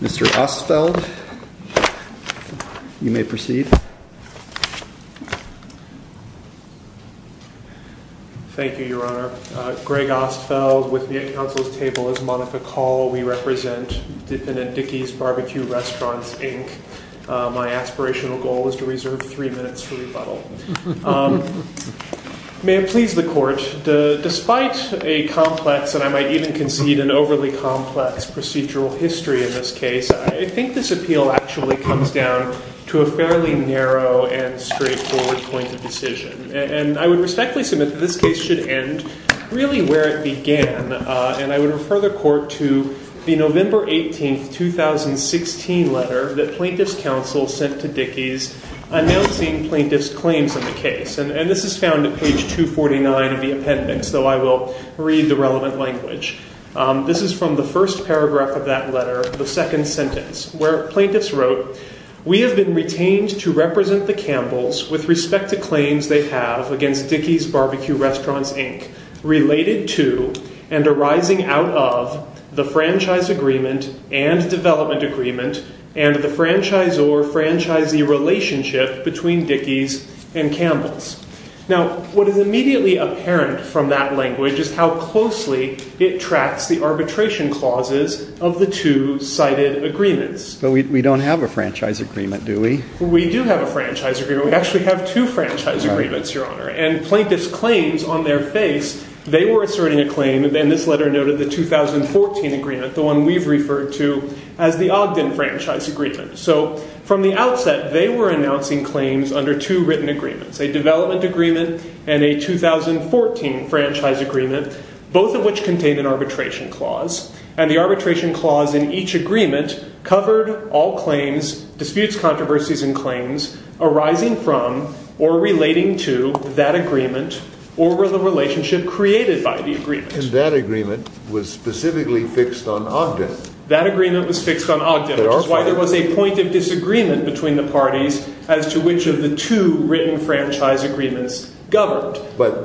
Mr. Ostfeld, you may proceed. Thank you, Your Honor. Greg Ostfeld with the counsel's table as Monica Call. We represent defendant Dickey's Barbecue Restaurants, Inc. My aspirational goal is to reserve three minutes for rebuttal. May it please the court, despite a complex, and I might even concede an overly complex, procedural history in this case, I think this appeal actually comes down to a fairly narrow and straightforward point of decision. And I would respectfully submit that this case should end really where it began, and I would refer the court to the November 18, 2016 letter that plaintiff's counsel sent to Dickey's announcing plaintiff's claims in the case. And this is found at page 249 of the appendix, though I will read the relevant language. This is from the first paragraph of that letter, the second sentence, where plaintiffs wrote, we have been retained to represent the Campbells with respect to claims they have against Dickey's Barbecue Restaurants, Inc., related to and arising out of the franchise agreement and development agreement and the franchise or franchisee relationship between Dickey's and Campbell's. Now, what is immediately apparent from that language is how closely it tracks the arbitration clauses of the two cited agreements. But we don't have a franchise agreement, do we? We do have a franchise agreement. We actually have two franchise agreements, Your Honor. And plaintiff's claims on their face, they were asserting a claim, and this letter noted the 2014 agreement, the one we've referred to as the Ogden Franchise Agreement. So from the outset, they were announcing claims under two written agreements. A development agreement and a 2014 franchise agreement, both of which contain an arbitration clause. And the arbitration clause in each agreement covered all claims, disputes, controversies, and claims arising from or relating to that agreement or were the relationship created by the agreement. And that agreement was specifically fixed on Ogden. That agreement was fixed on Ogden, which is why there was a point of disagreement between the parties as to which of the two written franchise agreements governed. But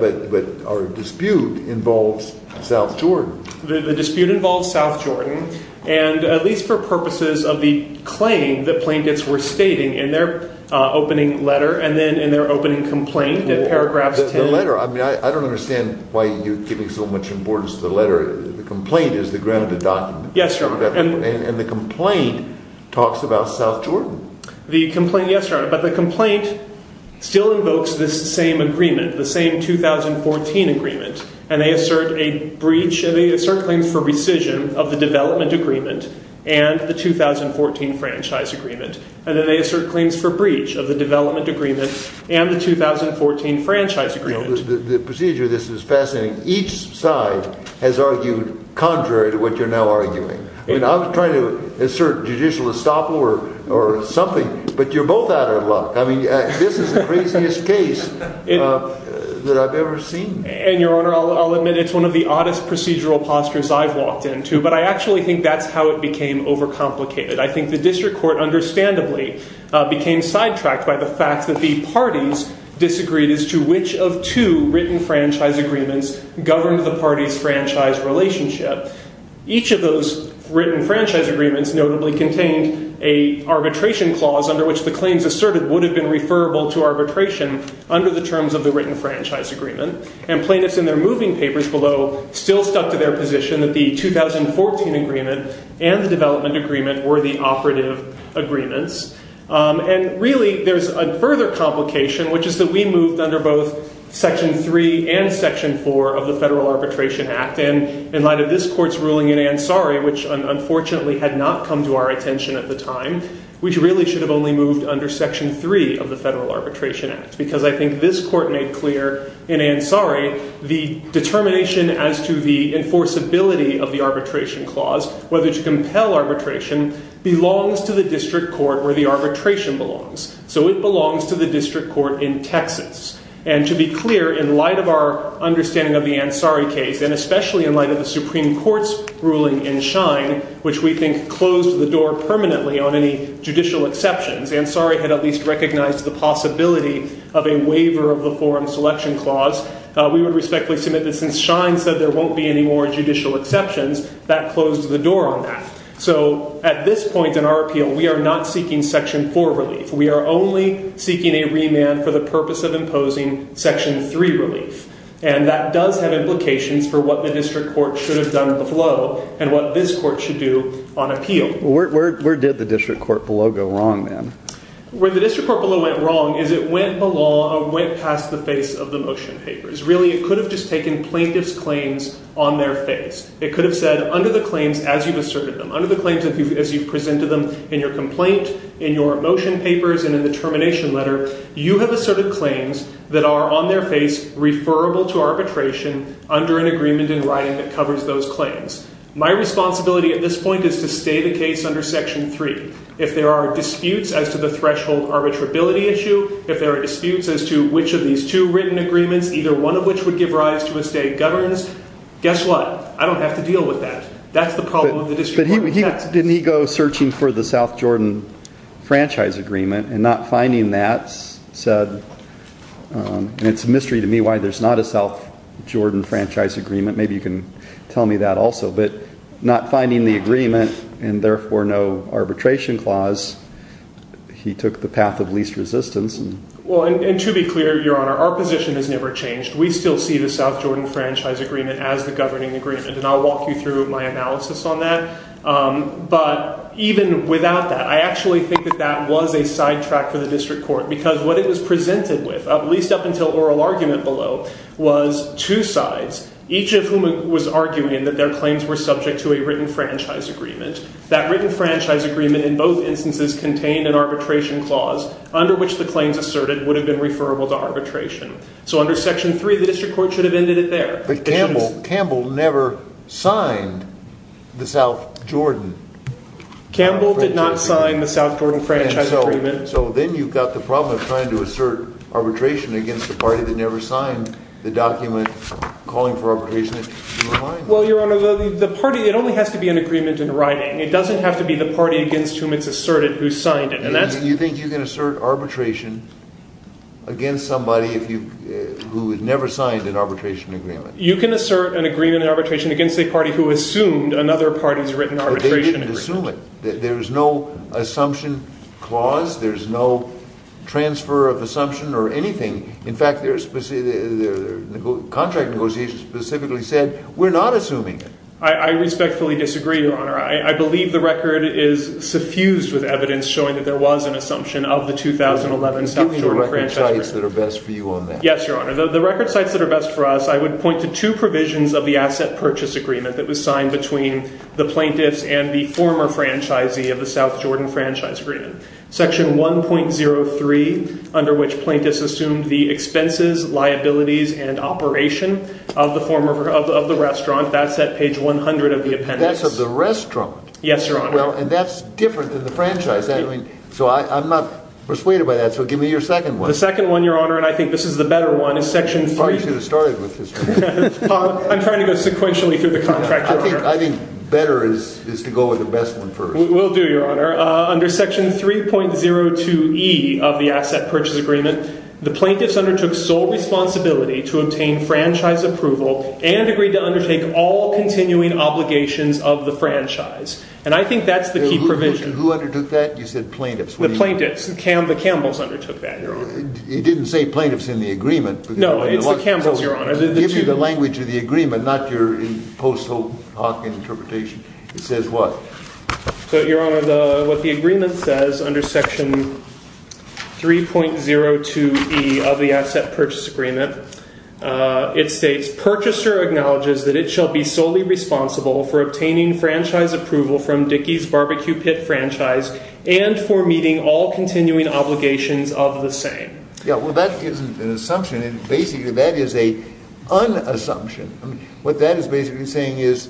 our dispute involves South Jordan. The dispute involves South Jordan. And at least for purposes of the claim that plaintiffs were stating in their opening letter and then in their opening complaint in paragraphs 10. The letter, I mean, I don't understand why you're giving so much importance to the letter. The complaint is the granite of the document. Yes, Your Honor. And the complaint talks about South Jordan. The complaint, yes, Your Honor. But the complaint still invokes this same agreement, the same 2014 agreement. And they assert a breach, they assert claims for rescission of the development agreement and the 2014 franchise agreement. And then they assert claims for breach of the development agreement and the 2014 franchise agreement. The procedure of this is fascinating. Each side has argued contrary to what you're now arguing. I mean, I was trying to assert judicial estoppel or something. But you're both out of luck. I mean, this is the craziest case that I've ever seen. And Your Honor, I'll admit it's one of the oddest procedural postures I've walked into. But I actually think that's how it became overcomplicated. I think the district court, understandably, became sidetracked by the fact that the parties disagreed as to which of two written franchise agreements governed the parties' franchise relationship. Each of those written franchise agreements notably contained an arbitration clause under which the claims asserted would have been referable to arbitration under the terms of the written franchise agreement. And plaintiffs in their moving papers below still stuck to their position that the 2014 agreement and the development agreement were the operative agreements. And really, there's a further complication, which is that we moved under both Section 3 and Section 4 of the Federal Arbitration Act. And in light of this court's ruling in Ansari, which unfortunately had not come to our attention at the time, we really should have only moved under Section 3 of the Federal Arbitration Act. Because I think this court made clear in Ansari the determination as to the enforceability of the arbitration clause, whether to compel arbitration, belongs to the district court where the arbitration belongs. So it belongs to the district court in Texas. And to be clear, in light of our understanding of the Ansari case, and especially in light of the Supreme Court's ruling in Schein, which we think closed the door permanently on any judicial exceptions, Ansari had at least recognized the possibility of a waiver of the forum selection clause. We would respectfully submit that since Schein said there won't be any more judicial exceptions, that closed the door on that. So at this point in our appeal, we are not seeking Section 4 relief. We are only seeking a remand for the purpose of imposing Section 3 relief. And that does have implications for what the district court should have done below, and what this court should do on appeal. Where did the district court below go wrong, then? Where the district court below went wrong is it went below, or went past the face of the motion papers. Really, it could have just taken plaintiff's claims on their face. It could have said, under the claims as you've asserted them, under the claims as you've asserted them in your complaint, in your motion papers, and in the termination letter, you have asserted claims that are on their face, referable to arbitration, under an agreement in writing that covers those claims. My responsibility at this point is to stay the case under Section 3. If there are disputes as to the threshold arbitrability issue, if there are disputes as to which of these two written agreements, either one of which would give rise to a stay governs, guess what? I don't have to deal with that. That's the problem with the district court. But didn't he go searching for the South Jordan Franchise Agreement and not finding that said, and it's a mystery to me why there's not a South Jordan Franchise Agreement, maybe you can tell me that also, but not finding the agreement, and therefore no arbitration clause, he took the path of least resistance. Well, and to be clear, Your Honor, our position has never changed. We still see the South Jordan Franchise Agreement as the governing agreement, and I'll walk you through my analysis on that. But even without that, I actually think that that was a sidetrack for the district court, because what it was presented with, at least up until oral argument below, was two sides, each of whom was arguing that their claims were subject to a written franchise agreement. That written franchise agreement, in both instances, contained an arbitration clause under which the claims asserted would have been referable to arbitration. So under Section 3, the district court should have ended it there. But Campbell never signed the South Jordan. Campbell did not sign the South Jordan Franchise Agreement. So then you've got the problem of trying to assert arbitration against the party that never signed the document calling for arbitration. Well, Your Honor, the party, it only has to be an agreement in writing. It doesn't have to be the party against whom it's asserted who signed it, and that's You think you can assert arbitration against somebody who had never signed an arbitration agreement? You can assert an agreement in arbitration against a party who assumed another party's written arbitration agreement. But they didn't assume it. There is no assumption clause. There's no transfer of assumption or anything. In fact, their contract negotiation specifically said, we're not assuming it. I respectfully disagree, Your Honor. I believe the record is suffused with evidence showing that there was an assumption of the 2011 South Jordan Franchise Agreement. Do you mean the record sites that are best for you on that? Yes, Your Honor. The record sites that are best for us, I would point to two provisions of the Asset Purchase Agreement that was signed between the plaintiffs and the former franchisee of the South Jordan Franchise Agreement. Section 1.03, under which plaintiffs assumed the expenses, liabilities, and operation of the restaurant, that's at page 100 of the appendix. That's of the restaurant? Yes, Your Honor. Well, and that's different than the franchise. So I'm not persuaded by that. So give me your second one. The second one, Your Honor, and I think this is the better one, is Section 3. You probably should have started with this one. I'm trying to go sequentially through the contract, Your Honor. I think better is to go with the best one first. Will do, Your Honor. Under Section 3.02e of the Asset Purchase Agreement, the plaintiffs undertook sole responsibility to obtain franchise approval and agreed to undertake all continuing obligations of the franchise. And I think that's the key provision. Who undertook that? You said plaintiffs. The plaintiffs. The Campbells undertook that, Your Honor. You didn't say plaintiffs in the agreement. No, it's the Campbells, Your Honor. Give me the language of the agreement, not your post-Hawking interpretation. It says what? So, Your Honor, what the agreement says under Section 3.02e of the Asset Purchase Agreement, it states, purchaser acknowledges that it shall be solely responsible for obtaining franchise approval from Dickey's Barbecue Pit Franchise and for meeting all continuing obligations of the same. Yeah, well, that isn't an assumption. Basically, that is an un-assumption. What that is basically saying is,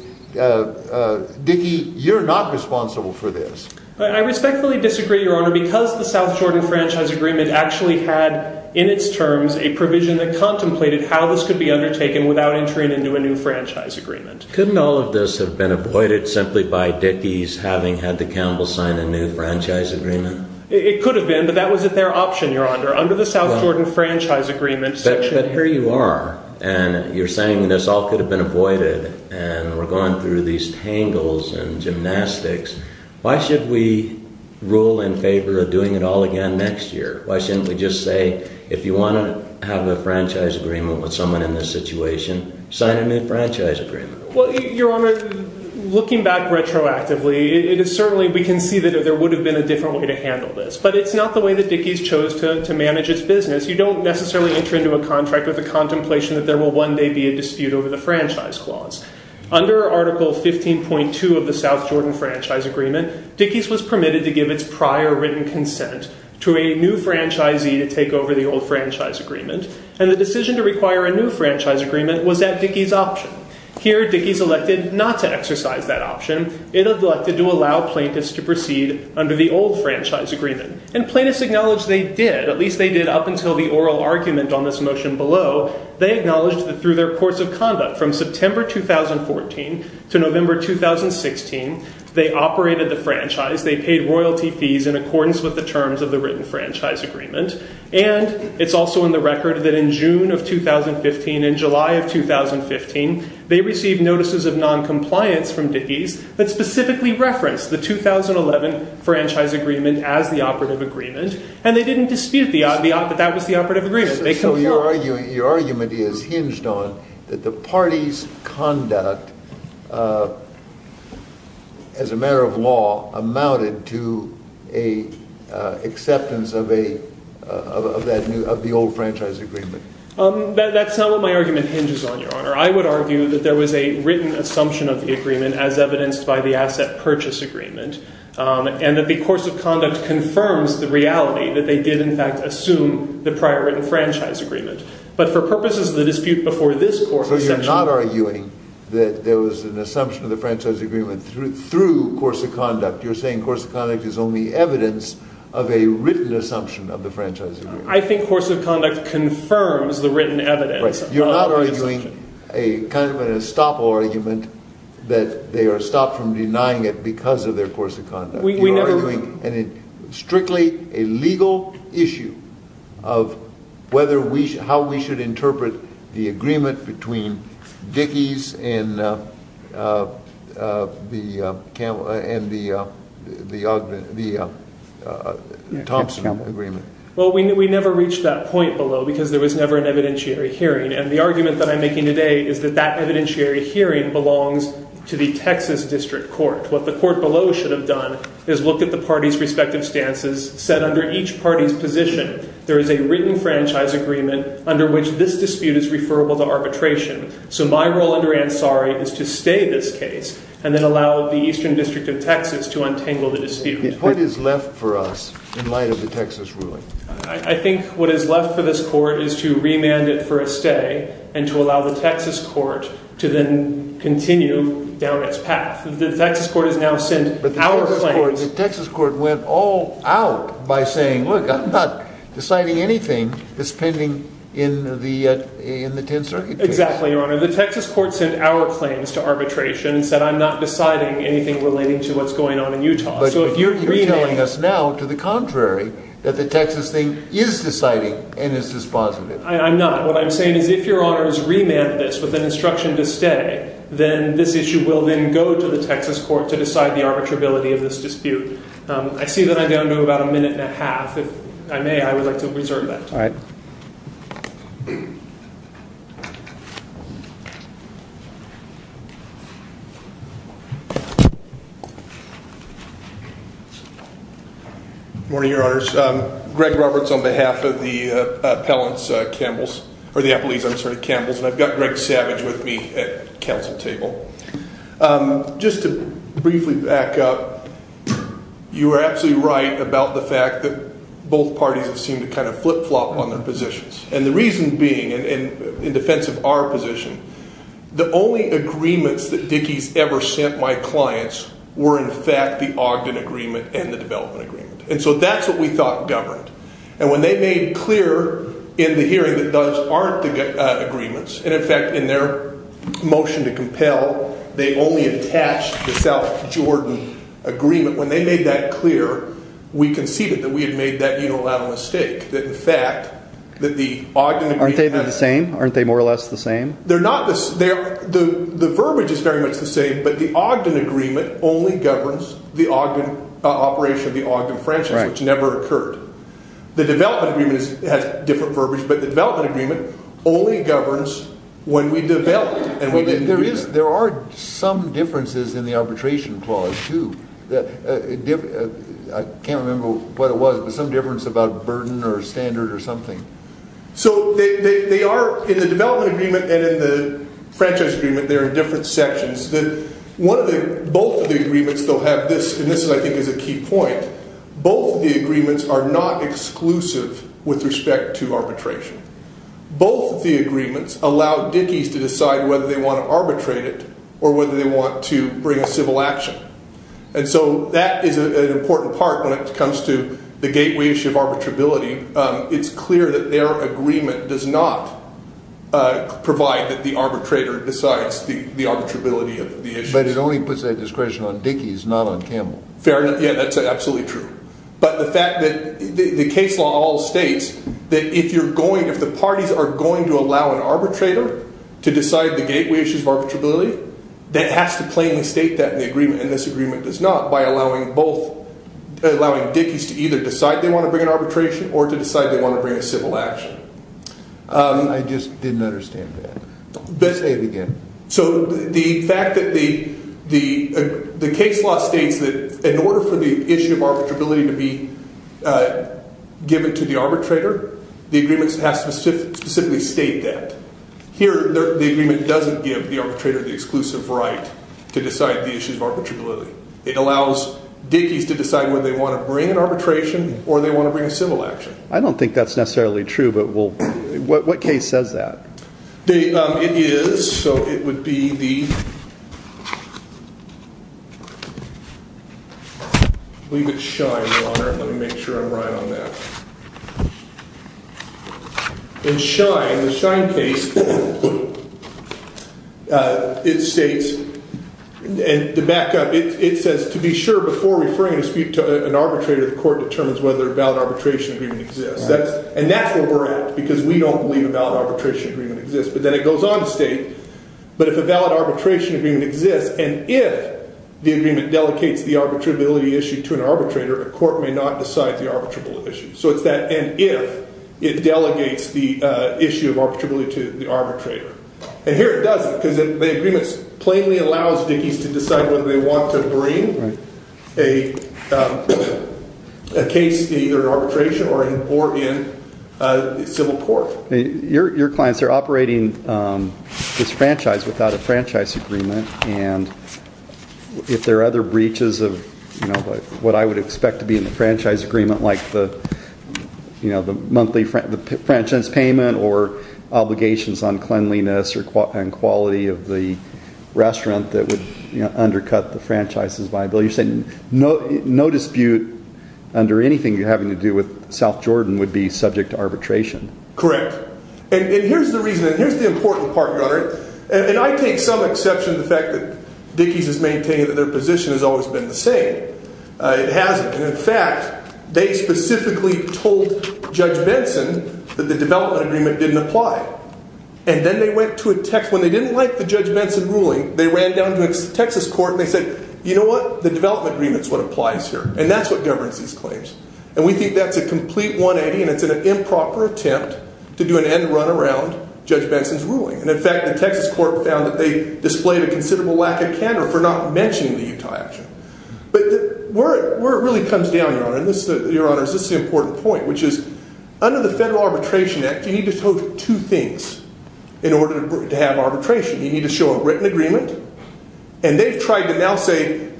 Dickey, you're not responsible for this. I respectfully disagree, Your Honor, because the South Jordan Franchise Agreement actually had in its terms a provision that contemplated how this could be undertaken without entering into a new franchise agreement. Couldn't all of this have been avoided simply by Dickey's having had the Campbells sign a new franchise agreement? It could have been, but that was their option, Your Honor, under the South Jordan Franchise Agreement. But here you are, and you're saying this all could have been avoided, and we're going through these tangles and gymnastics. Why should we rule in favor of doing it all again next year? Why shouldn't we just say, if you want to have a franchise agreement with someone in this situation, sign a new franchise agreement? Well, Your Honor, looking back retroactively, it is certainly, we can see that there would have been a different way to handle this. But it's not the way that Dickey's chose to manage its business. You don't necessarily enter into a contract with a contemplation that there will one day be a dispute over the franchise clause. Under Article 15.2 of the South Jordan Franchise Agreement, Dickey's was permitted to give its prior written consent to a new franchisee to take over the old franchise agreement, and the decision to require a new franchise agreement was at Dickey's option. Here, Dickey's elected not to exercise that option. It elected to allow plaintiffs to proceed under the old franchise agreement. And plaintiffs acknowledged they did. At least they did up until the oral argument on this motion below. They acknowledged that through their course of conduct from September 2014 to November 2016, they operated the franchise. They paid royalty fees in accordance with the terms of the written franchise agreement. And it's also in the record that in June of 2015 and July of 2015, they received notices of noncompliance from Dickey's that specifically referenced the 2011 franchise agreement as the operative agreement, and they didn't dispute that that was the operative agreement. So your argument is hinged on that the party's conduct as a matter of law amounted to an acceptance of the old franchise agreement. That's not what my argument hinges on, Your Honor. I would argue that there was a written assumption of the agreement as evidenced by the asset purchase agreement, and that the course of conduct confirms the reality that they did, in fact, assume the prior written franchise agreement. But for purposes of the dispute before this court... So you're not arguing that there was an assumption of the franchise agreement through course of conduct. You're saying course of conduct is only evidence of a written assumption of the franchise agreement. I think course of conduct confirms the written evidence. You're not arguing a kind of an estoppel argument that they are stopped from denying it because of their course of conduct. You're arguing strictly a legal issue of how we should interpret the agreement between Dickey's and the Thompson agreement. Well, we never reached that point below because there was never an evidentiary hearing. And the argument that I'm making today is that that evidentiary hearing belongs to the Texas District Court. What the court below should have done is looked at the parties' respective stances, said under each party's position, there is a written franchise agreement under which this dispute is referable to arbitration. So my role under Ansari is to stay this case and then allow the Eastern District of Texas to untangle the dispute. What is left for us in light of the Texas ruling? I think what is left for this court is to remand it for a stay and to allow the Texas court to then continue down its path. The Texas court has now sent our claims. But the Texas court went all out by saying, look, I'm not deciding anything that's pending in the 10th Circuit case. Exactly, Your Honor. The Texas court sent our claims to arbitration and said I'm not deciding anything relating to what's going on in Utah. So you're telling us now, to the contrary, that the Texas thing is deciding and is dispositive. I'm not. What I'm saying is if Your Honor's remanded this with an instruction to stay, then this issue will then go to the Texas court to decide the arbitrability of this dispute. I see that I don't know about a minute and a half. If I may, I would like to reserve that. All right. Good morning, Your Honors. Greg Roberts on behalf of the Appellant's Campbell's or the Appellee's, I'm sorry, Campbell's. And I've got Greg Savage with me at counsel table. Just to briefly back up, you were absolutely right about the fact that both parties have seemed to kind of flip-flop on their positions. And the reason being, in defense of our position, the only agreements that Dickey's ever sent my clients were in fact the Ogden Agreement and the Development Agreement. And so that's what we thought governed. And when they made clear in the hearing that those aren't the agreements, and in fact in their motion to compel, they only attached the South Jordan Agreement, when they made that clear, we conceded that we had made that unilateral mistake. That in fact, that the Ogden Agreement... Aren't they the same? Aren't they more or less the same? They're not. The verbiage is very much the same, but the Ogden Agreement only governs the operation of the Ogden Franchise, which never occurred. The Development Agreement has different verbiage, but the Development Agreement only governs when we develop. There are some differences in the Arbitration Clause, too. I can't remember what it was, but some difference about burden or standard or something. So they are, in the Development Agreement and in the Franchise Agreement, they're in different sections. Both of the agreements, they'll have this, and this I think is a key point, both of the agreements are not exclusive with respect to arbitration. Both of the agreements allow Dickies to decide whether they want to arbitrate it or whether they want to bring a civil action. And so that is an important part when it comes to the gateways of arbitrability. It's clear that their agreement does not provide that the arbitrator decides the arbitrability of the issue. But it only puts that discretion on Dickies, not on Campbell. Fair enough, yeah, that's absolutely true. But the fact that the case law all states that if you're going, if the parties are going to allow an arbitrator to decide the gateway issues of arbitrability, that has to plainly state that in the agreement, and this agreement does not, by allowing both, allowing Dickies to either decide they want to bring an arbitration or to decide they want to bring a civil action. I just didn't understand that. So the fact that the case law states that in order for the issue of arbitrability to be given to the arbitrator, the agreement has to specifically state that. Here, the agreement doesn't give the arbitrator the exclusive right to decide the issues of arbitrability. It allows Dickies to decide whether they want to bring an arbitration or they want to bring a civil action. but what case says that? It is. So the case law states so it would be the I believe it's Schein, Your Honor. Let me make sure I'm right on that. In Schein, the Schein case, it states, and to back up, it says to be sure before referring a dispute to an arbitrator, the court determines whether a valid arbitration agreement exists. And that's where we're at because we don't believe a valid arbitration agreement exists. But then it goes on to state but if a valid arbitration agreement exists and if the agreement delegates the arbitrability issue to an arbitrator, a court may not decide the arbitrable issue. So it's that and if it delegates the issue of arbitrability to the arbitrator. And here it doesn't because the agreement plainly allows Dickies to decide whether they want to bring a case either in arbitration or in court. Your clients are operating this franchise without a franchise agreement and if there are other breaches of what I would expect to be in the franchise agreement like the monthly franchise payment or obligations on cleanliness and quality of the restaurant that would undercut the franchise's viability, you're saying no dispute under anything you're having to do with South Jordan would be subject to arbitration. Correct. And here's the reason and here's the important part, Your Honor. And I take some exception to the fact that Dickies has maintained that their position has always been the same. It hasn't. And in fact, they specifically told Judge Benson that the development agreement didn't apply. And then they went to a text when they didn't like the Judge Benson and it's an improper attempt to do an end run around Judge Benson's ruling. And in fact, the Texas court found that they displayed a considerable lack of candor for not mentioning the Utah action. But where it really comes down, Your Honor, is this is the important point which is under the Federal Arbitration Act you need to show two things in order to have arbitration. You need to show a written agreement and they've tried to now say that the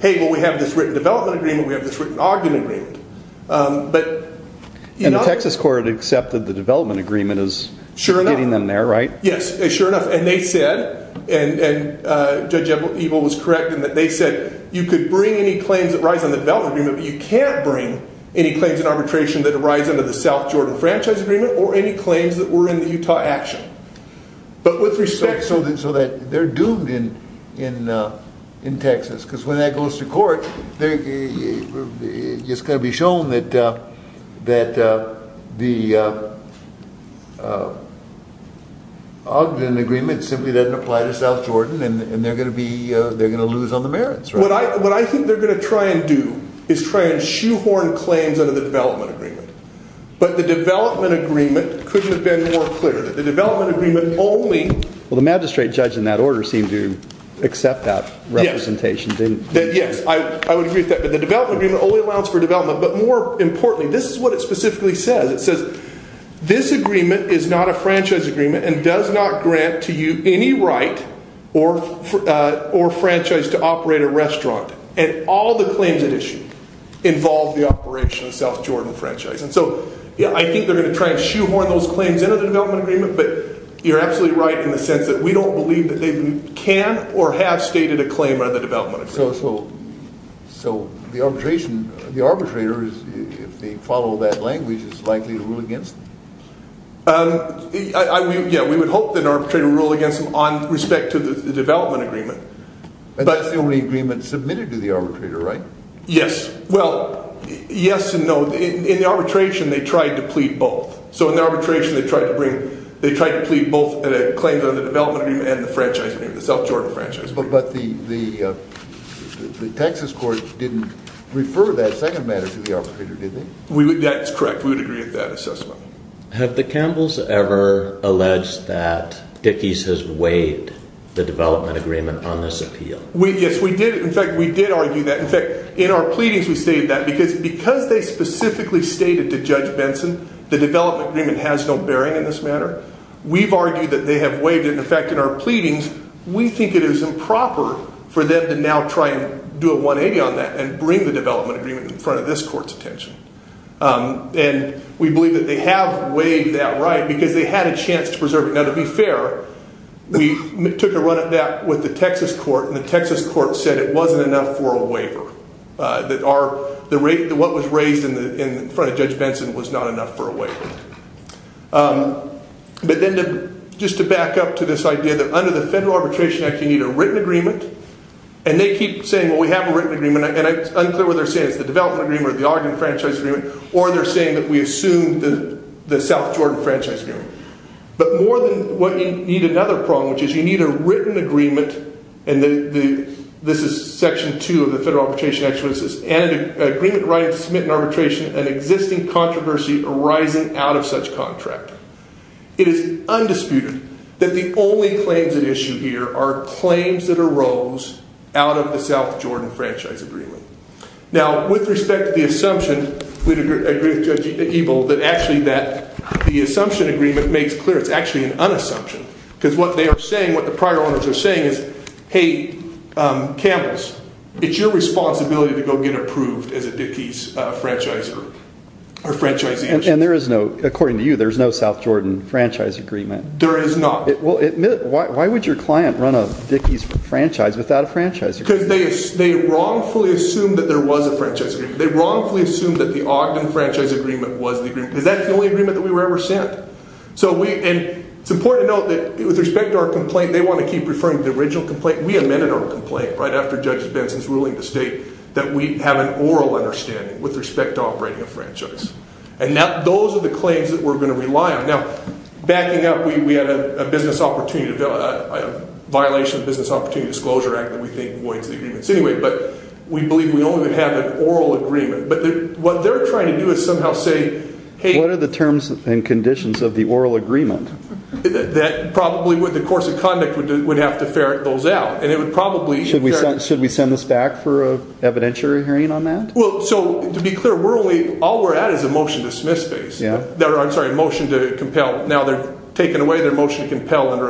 U.S. court accepted the development agreement as getting them there, right? Yes, sure enough. And they said, and Judge Ebel was correct in that they said you could bring any claims that rise under the development agreement but you can't bring any claims in arbitration that arise under the South Jordan franchise agreement or any claims that were in the Utah action. But with respect, the Ogden agreement simply doesn't apply to South Jordan and they're going to lose on the merits, right? What I think they're going to try and do is try and shoehorn claims under the development agreement but the development agreement couldn't have been more clear that the development agreement only Well, the magistrate judge in that order seemed to accept that representation, didn't he? Yes, I would agree with that but the development agreement only allows for development but more importantly this is what it specifically says it says this agreement is not a franchise agreement and does not grant to you any right or franchise to operate a restaurant and all the claims at issue involve the operation of the South Jordan franchise and so I think they're going to try and shoehorn those claims into the development agreement but the arbitration the arbitrator if they follow that language is likely to rule against them Yeah, we would hope that an arbitrator would rule against them on respect to the development agreement But that's the only agreement submitted to the arbitrator, right? Yes, well, yes and no in the arbitration they tried to plead both so in the arbitration they tried to plead both claims under the development agreement They referred that second matter to the arbitrator, didn't they? That's correct, we would agree with that assessment Have the Campbells ever alleged that Dickies has waived the development agreement on this appeal? Yes, we did. In fact, we did argue that In fact, in our pleadings we stated that because they specifically stated to Judge Benson the development agreement has no bearing in this matter we've argued that they have waived it In fact, in our pleadings we did not claim the development agreement in front of this court's attention and we believe that they have waived that right because they had a chance to preserve it Now, to be fair we took a run at that with the Texas court and the Texas court said it wasn't enough for a waiver What was raised in front of Judge Benson was not enough for a waiver But then, just to back up to this idea that under the Federal Arbitration Act you need a written agreement either where they're saying it's the development agreement or the argument franchise agreement or they're saying that we assume the South Jordan franchise agreement But more than what you need another problem, which is you need a written agreement and this is Section 2 of the Federal Arbitration Act and an agreement writing to submit an arbitration an existing controversy arising out of such contract It is undisputed Now, with respect to the assumption we agree with Judge Ebel that actually that the assumption agreement makes clear it's actually an unassumption because what they are saying what the prior owners are saying is, hey, Campbell's it's your responsibility to go get approved as a Dickey's franchiser or franchisee And there is no, according to you there is no South Jordan franchise agreement There is not Well, why would your client run a Dickey's franchise without a franchise agreement Because they wrongfully assumed that there was a franchise agreement They wrongfully assumed that the Ogden franchise agreement was the agreement Because that's the only agreement that we were ever sent And it's important to note that with respect to our complaint they want to keep referring to the original complaint We amended our complaint in violation of the Business Opportunity Disclosure Act that we think voids the agreements anyway But we believe we only have an oral agreement But what they are trying to do is somehow say What are the terms and conditions of the oral agreement That probably the course of conduct would have to ferret those out Should we send this back for an evidentiary hearing on that So, to be clear all we are at is a motion to dismiss I'm sorry, a motion to compel under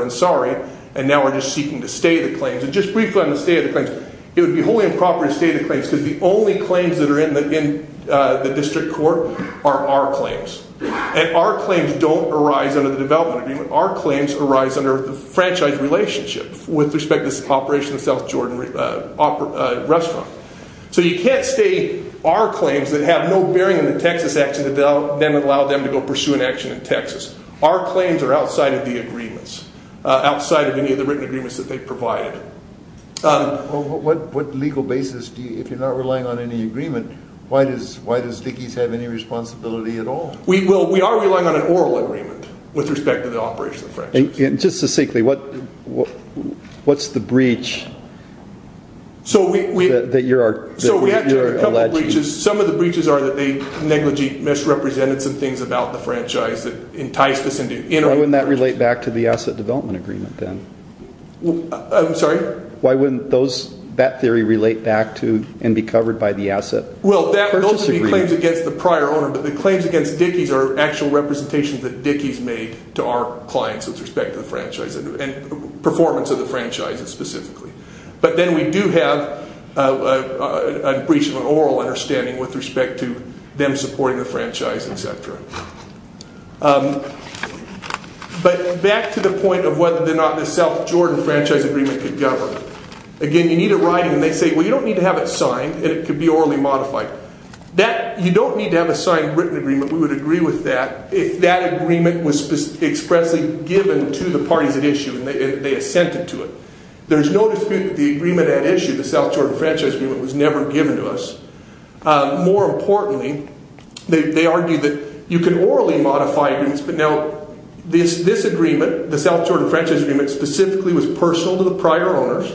Ansari And now we are just seeking to stay the claims And just briefly on the stay of the claims It would be wholly improper to stay the claims Because the only claims that are in the district court are our claims And our claims don't arise under the development agreement Our claims arise under the franchise relationship with respect to the operation of the South Jordan restaurant So you can't stay our claims outside of any of the written agreements that they provided What legal basis if you are not relying on any agreement Why does Dickey's have any responsibility at all We are relying on an oral agreement with respect to the operation of the franchise And just to say What's the breach that you are Some of the breaches are that they negligee misrepresented some things about the franchise that enticed us Why wouldn't that relate back to the asset development agreement I'm sorry Why wouldn't that theory relate back to and be covered by the asset Well those would be claims against the prior owner but the claims against Dickey's are actual representations that Dickey's made to our clients with respect to the franchise and performance of the franchise But back to the point of whether or not the South Jordan franchise agreement could govern Again you need a writing and they say well you don't need to have it signed and it could be orally modified You don't need to have a signed written agreement we would agree with that if that agreement was expressly given to the parties at issue and they assented to it There's no dispute that the agreement at issue would modify agreements but now this agreement the South Jordan franchise agreement specifically was personal to the prior owners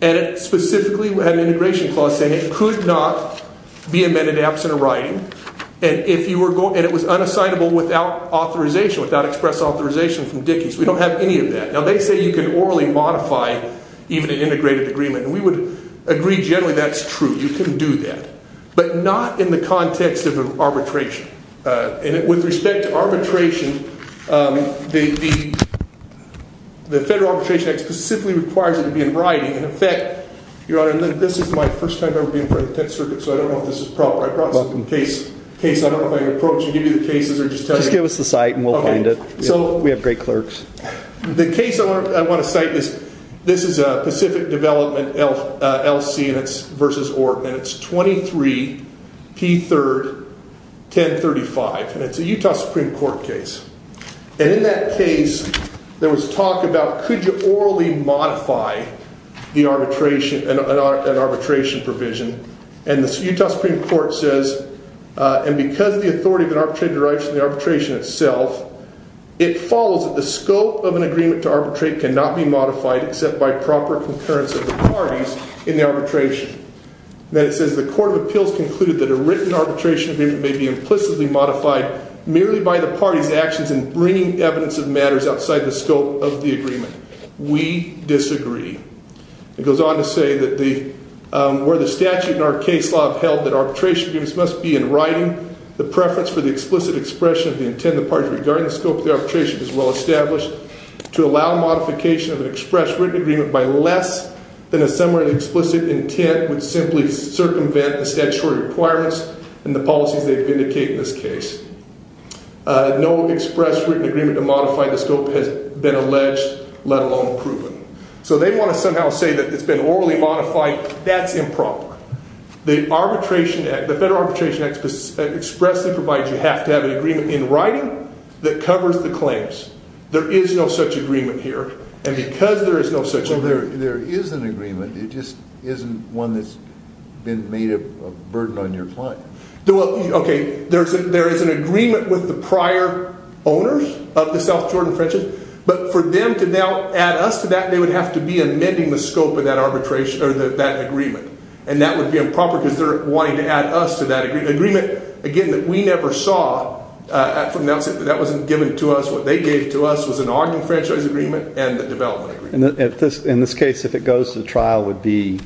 and it specifically had an integration clause saying it could not be amended absent a writing and it was unassignable without authorization without express authorization from Dickey's We don't have any of that Now they say you can orally modify even an integrated agreement but the arbitration the federal arbitration act specifically requires it to be in writing and in fact your honor this is my first time ever being part of the 10th circuit so I don't know if this is proper I brought some case I don't know if I can approach and give you the cases Just give us the site and we'll hand it We have great clerks The case I want to cite is the Utah Supreme Court case and in that case there was talk about could you orally modify the arbitration and arbitration provision and the Utah Supreme Court says and because the authority of the arbitration itself it follows that the scope of an agreement to arbitrate cannot be modified except by proper concurrence of the parties in the arbitration and then it says the court of appeals concluded that a written arbitration agreement may be implicitly modified merely by the parties actions in bringing evidence of matters outside the scope of the agreement We disagree It goes on to say that where the statute and our case law have held that arbitration agreements must be in writing the preference for the explicit expression of the intent and the parties regarding the scope of the arbitration is well established to allow modification of an express written agreement by less than a similar explicit intent would simply circumvent the statutory requirements and the policies they vindicate in this case No express written agreement to modify the scope has been alleged let alone proven So they want to somehow say that it's been orally modified that covers the claims there is no such agreement here and because there is no such agreement There is an agreement it just isn't one that's been made a burden on your client There is an agreement with the prior owners of the South Jordan Frenches but for them to now add us to that they would have to be amending the scope of that agreement and that would be improper because they're wanting to add us to that agreement again that we never saw that wasn't given to us what they gave to us was an argument franchise agreement and the development agreement In this case if it goes to trial would be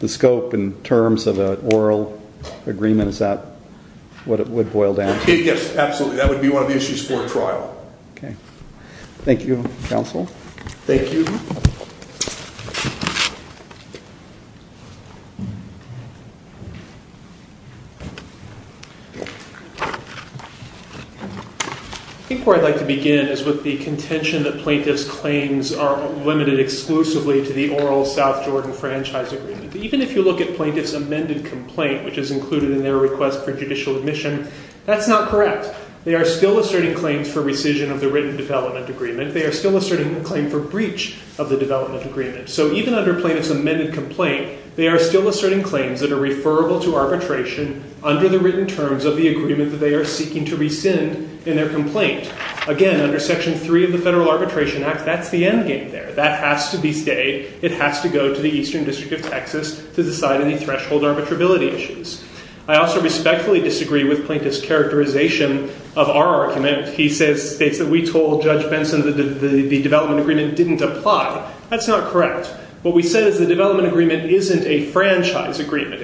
the scope in terms of an oral agreement is that what it would boil down to Yes absolutely that would be one of the issues for trial Thank you counsel Thank you I think where I'd like to begin is with the contention that plaintiff's claims are limited exclusively to the oral South Jordan franchise agreement Even if you look at plaintiff's amended complaint which is included in their request for judicial admission that's not correct They are still asserting claims for rescission of the written development agreement They are still asserting a claim for breach of the development agreement So even under plaintiff's amended complaint they are still asserting claims Again under section 3 of the Federal Arbitration Act that's the end game there That has to be stayed It has to go to the Eastern District of Texas to decide any threshold arbitrability issues I also respectfully disagree with plaintiff's characterization of our argument He states that we told Judge Benson that the development agreement didn't apply That's not correct What we said is the development agreement isn't a franchise agreement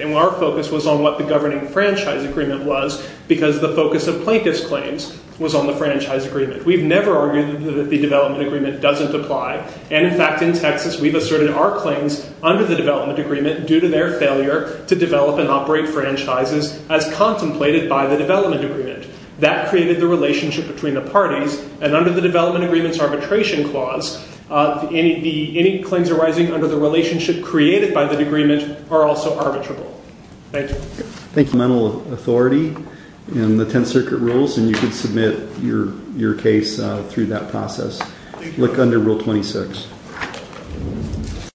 We've never argued that the development agreement doesn't apply And in fact in Texas we've asserted our claims under the development agreement due to their failure to develop and operate franchises as contemplated by the development agreement That created the relationship between the parties and under the development agreement's arbitration clause any claims arising under the relationship created by the agreement are also arbitrable Thank you If you have any questions you can reach out to me with mental authority in the 10th Circuit Rules and you can submit your case through that process Look under Rule 26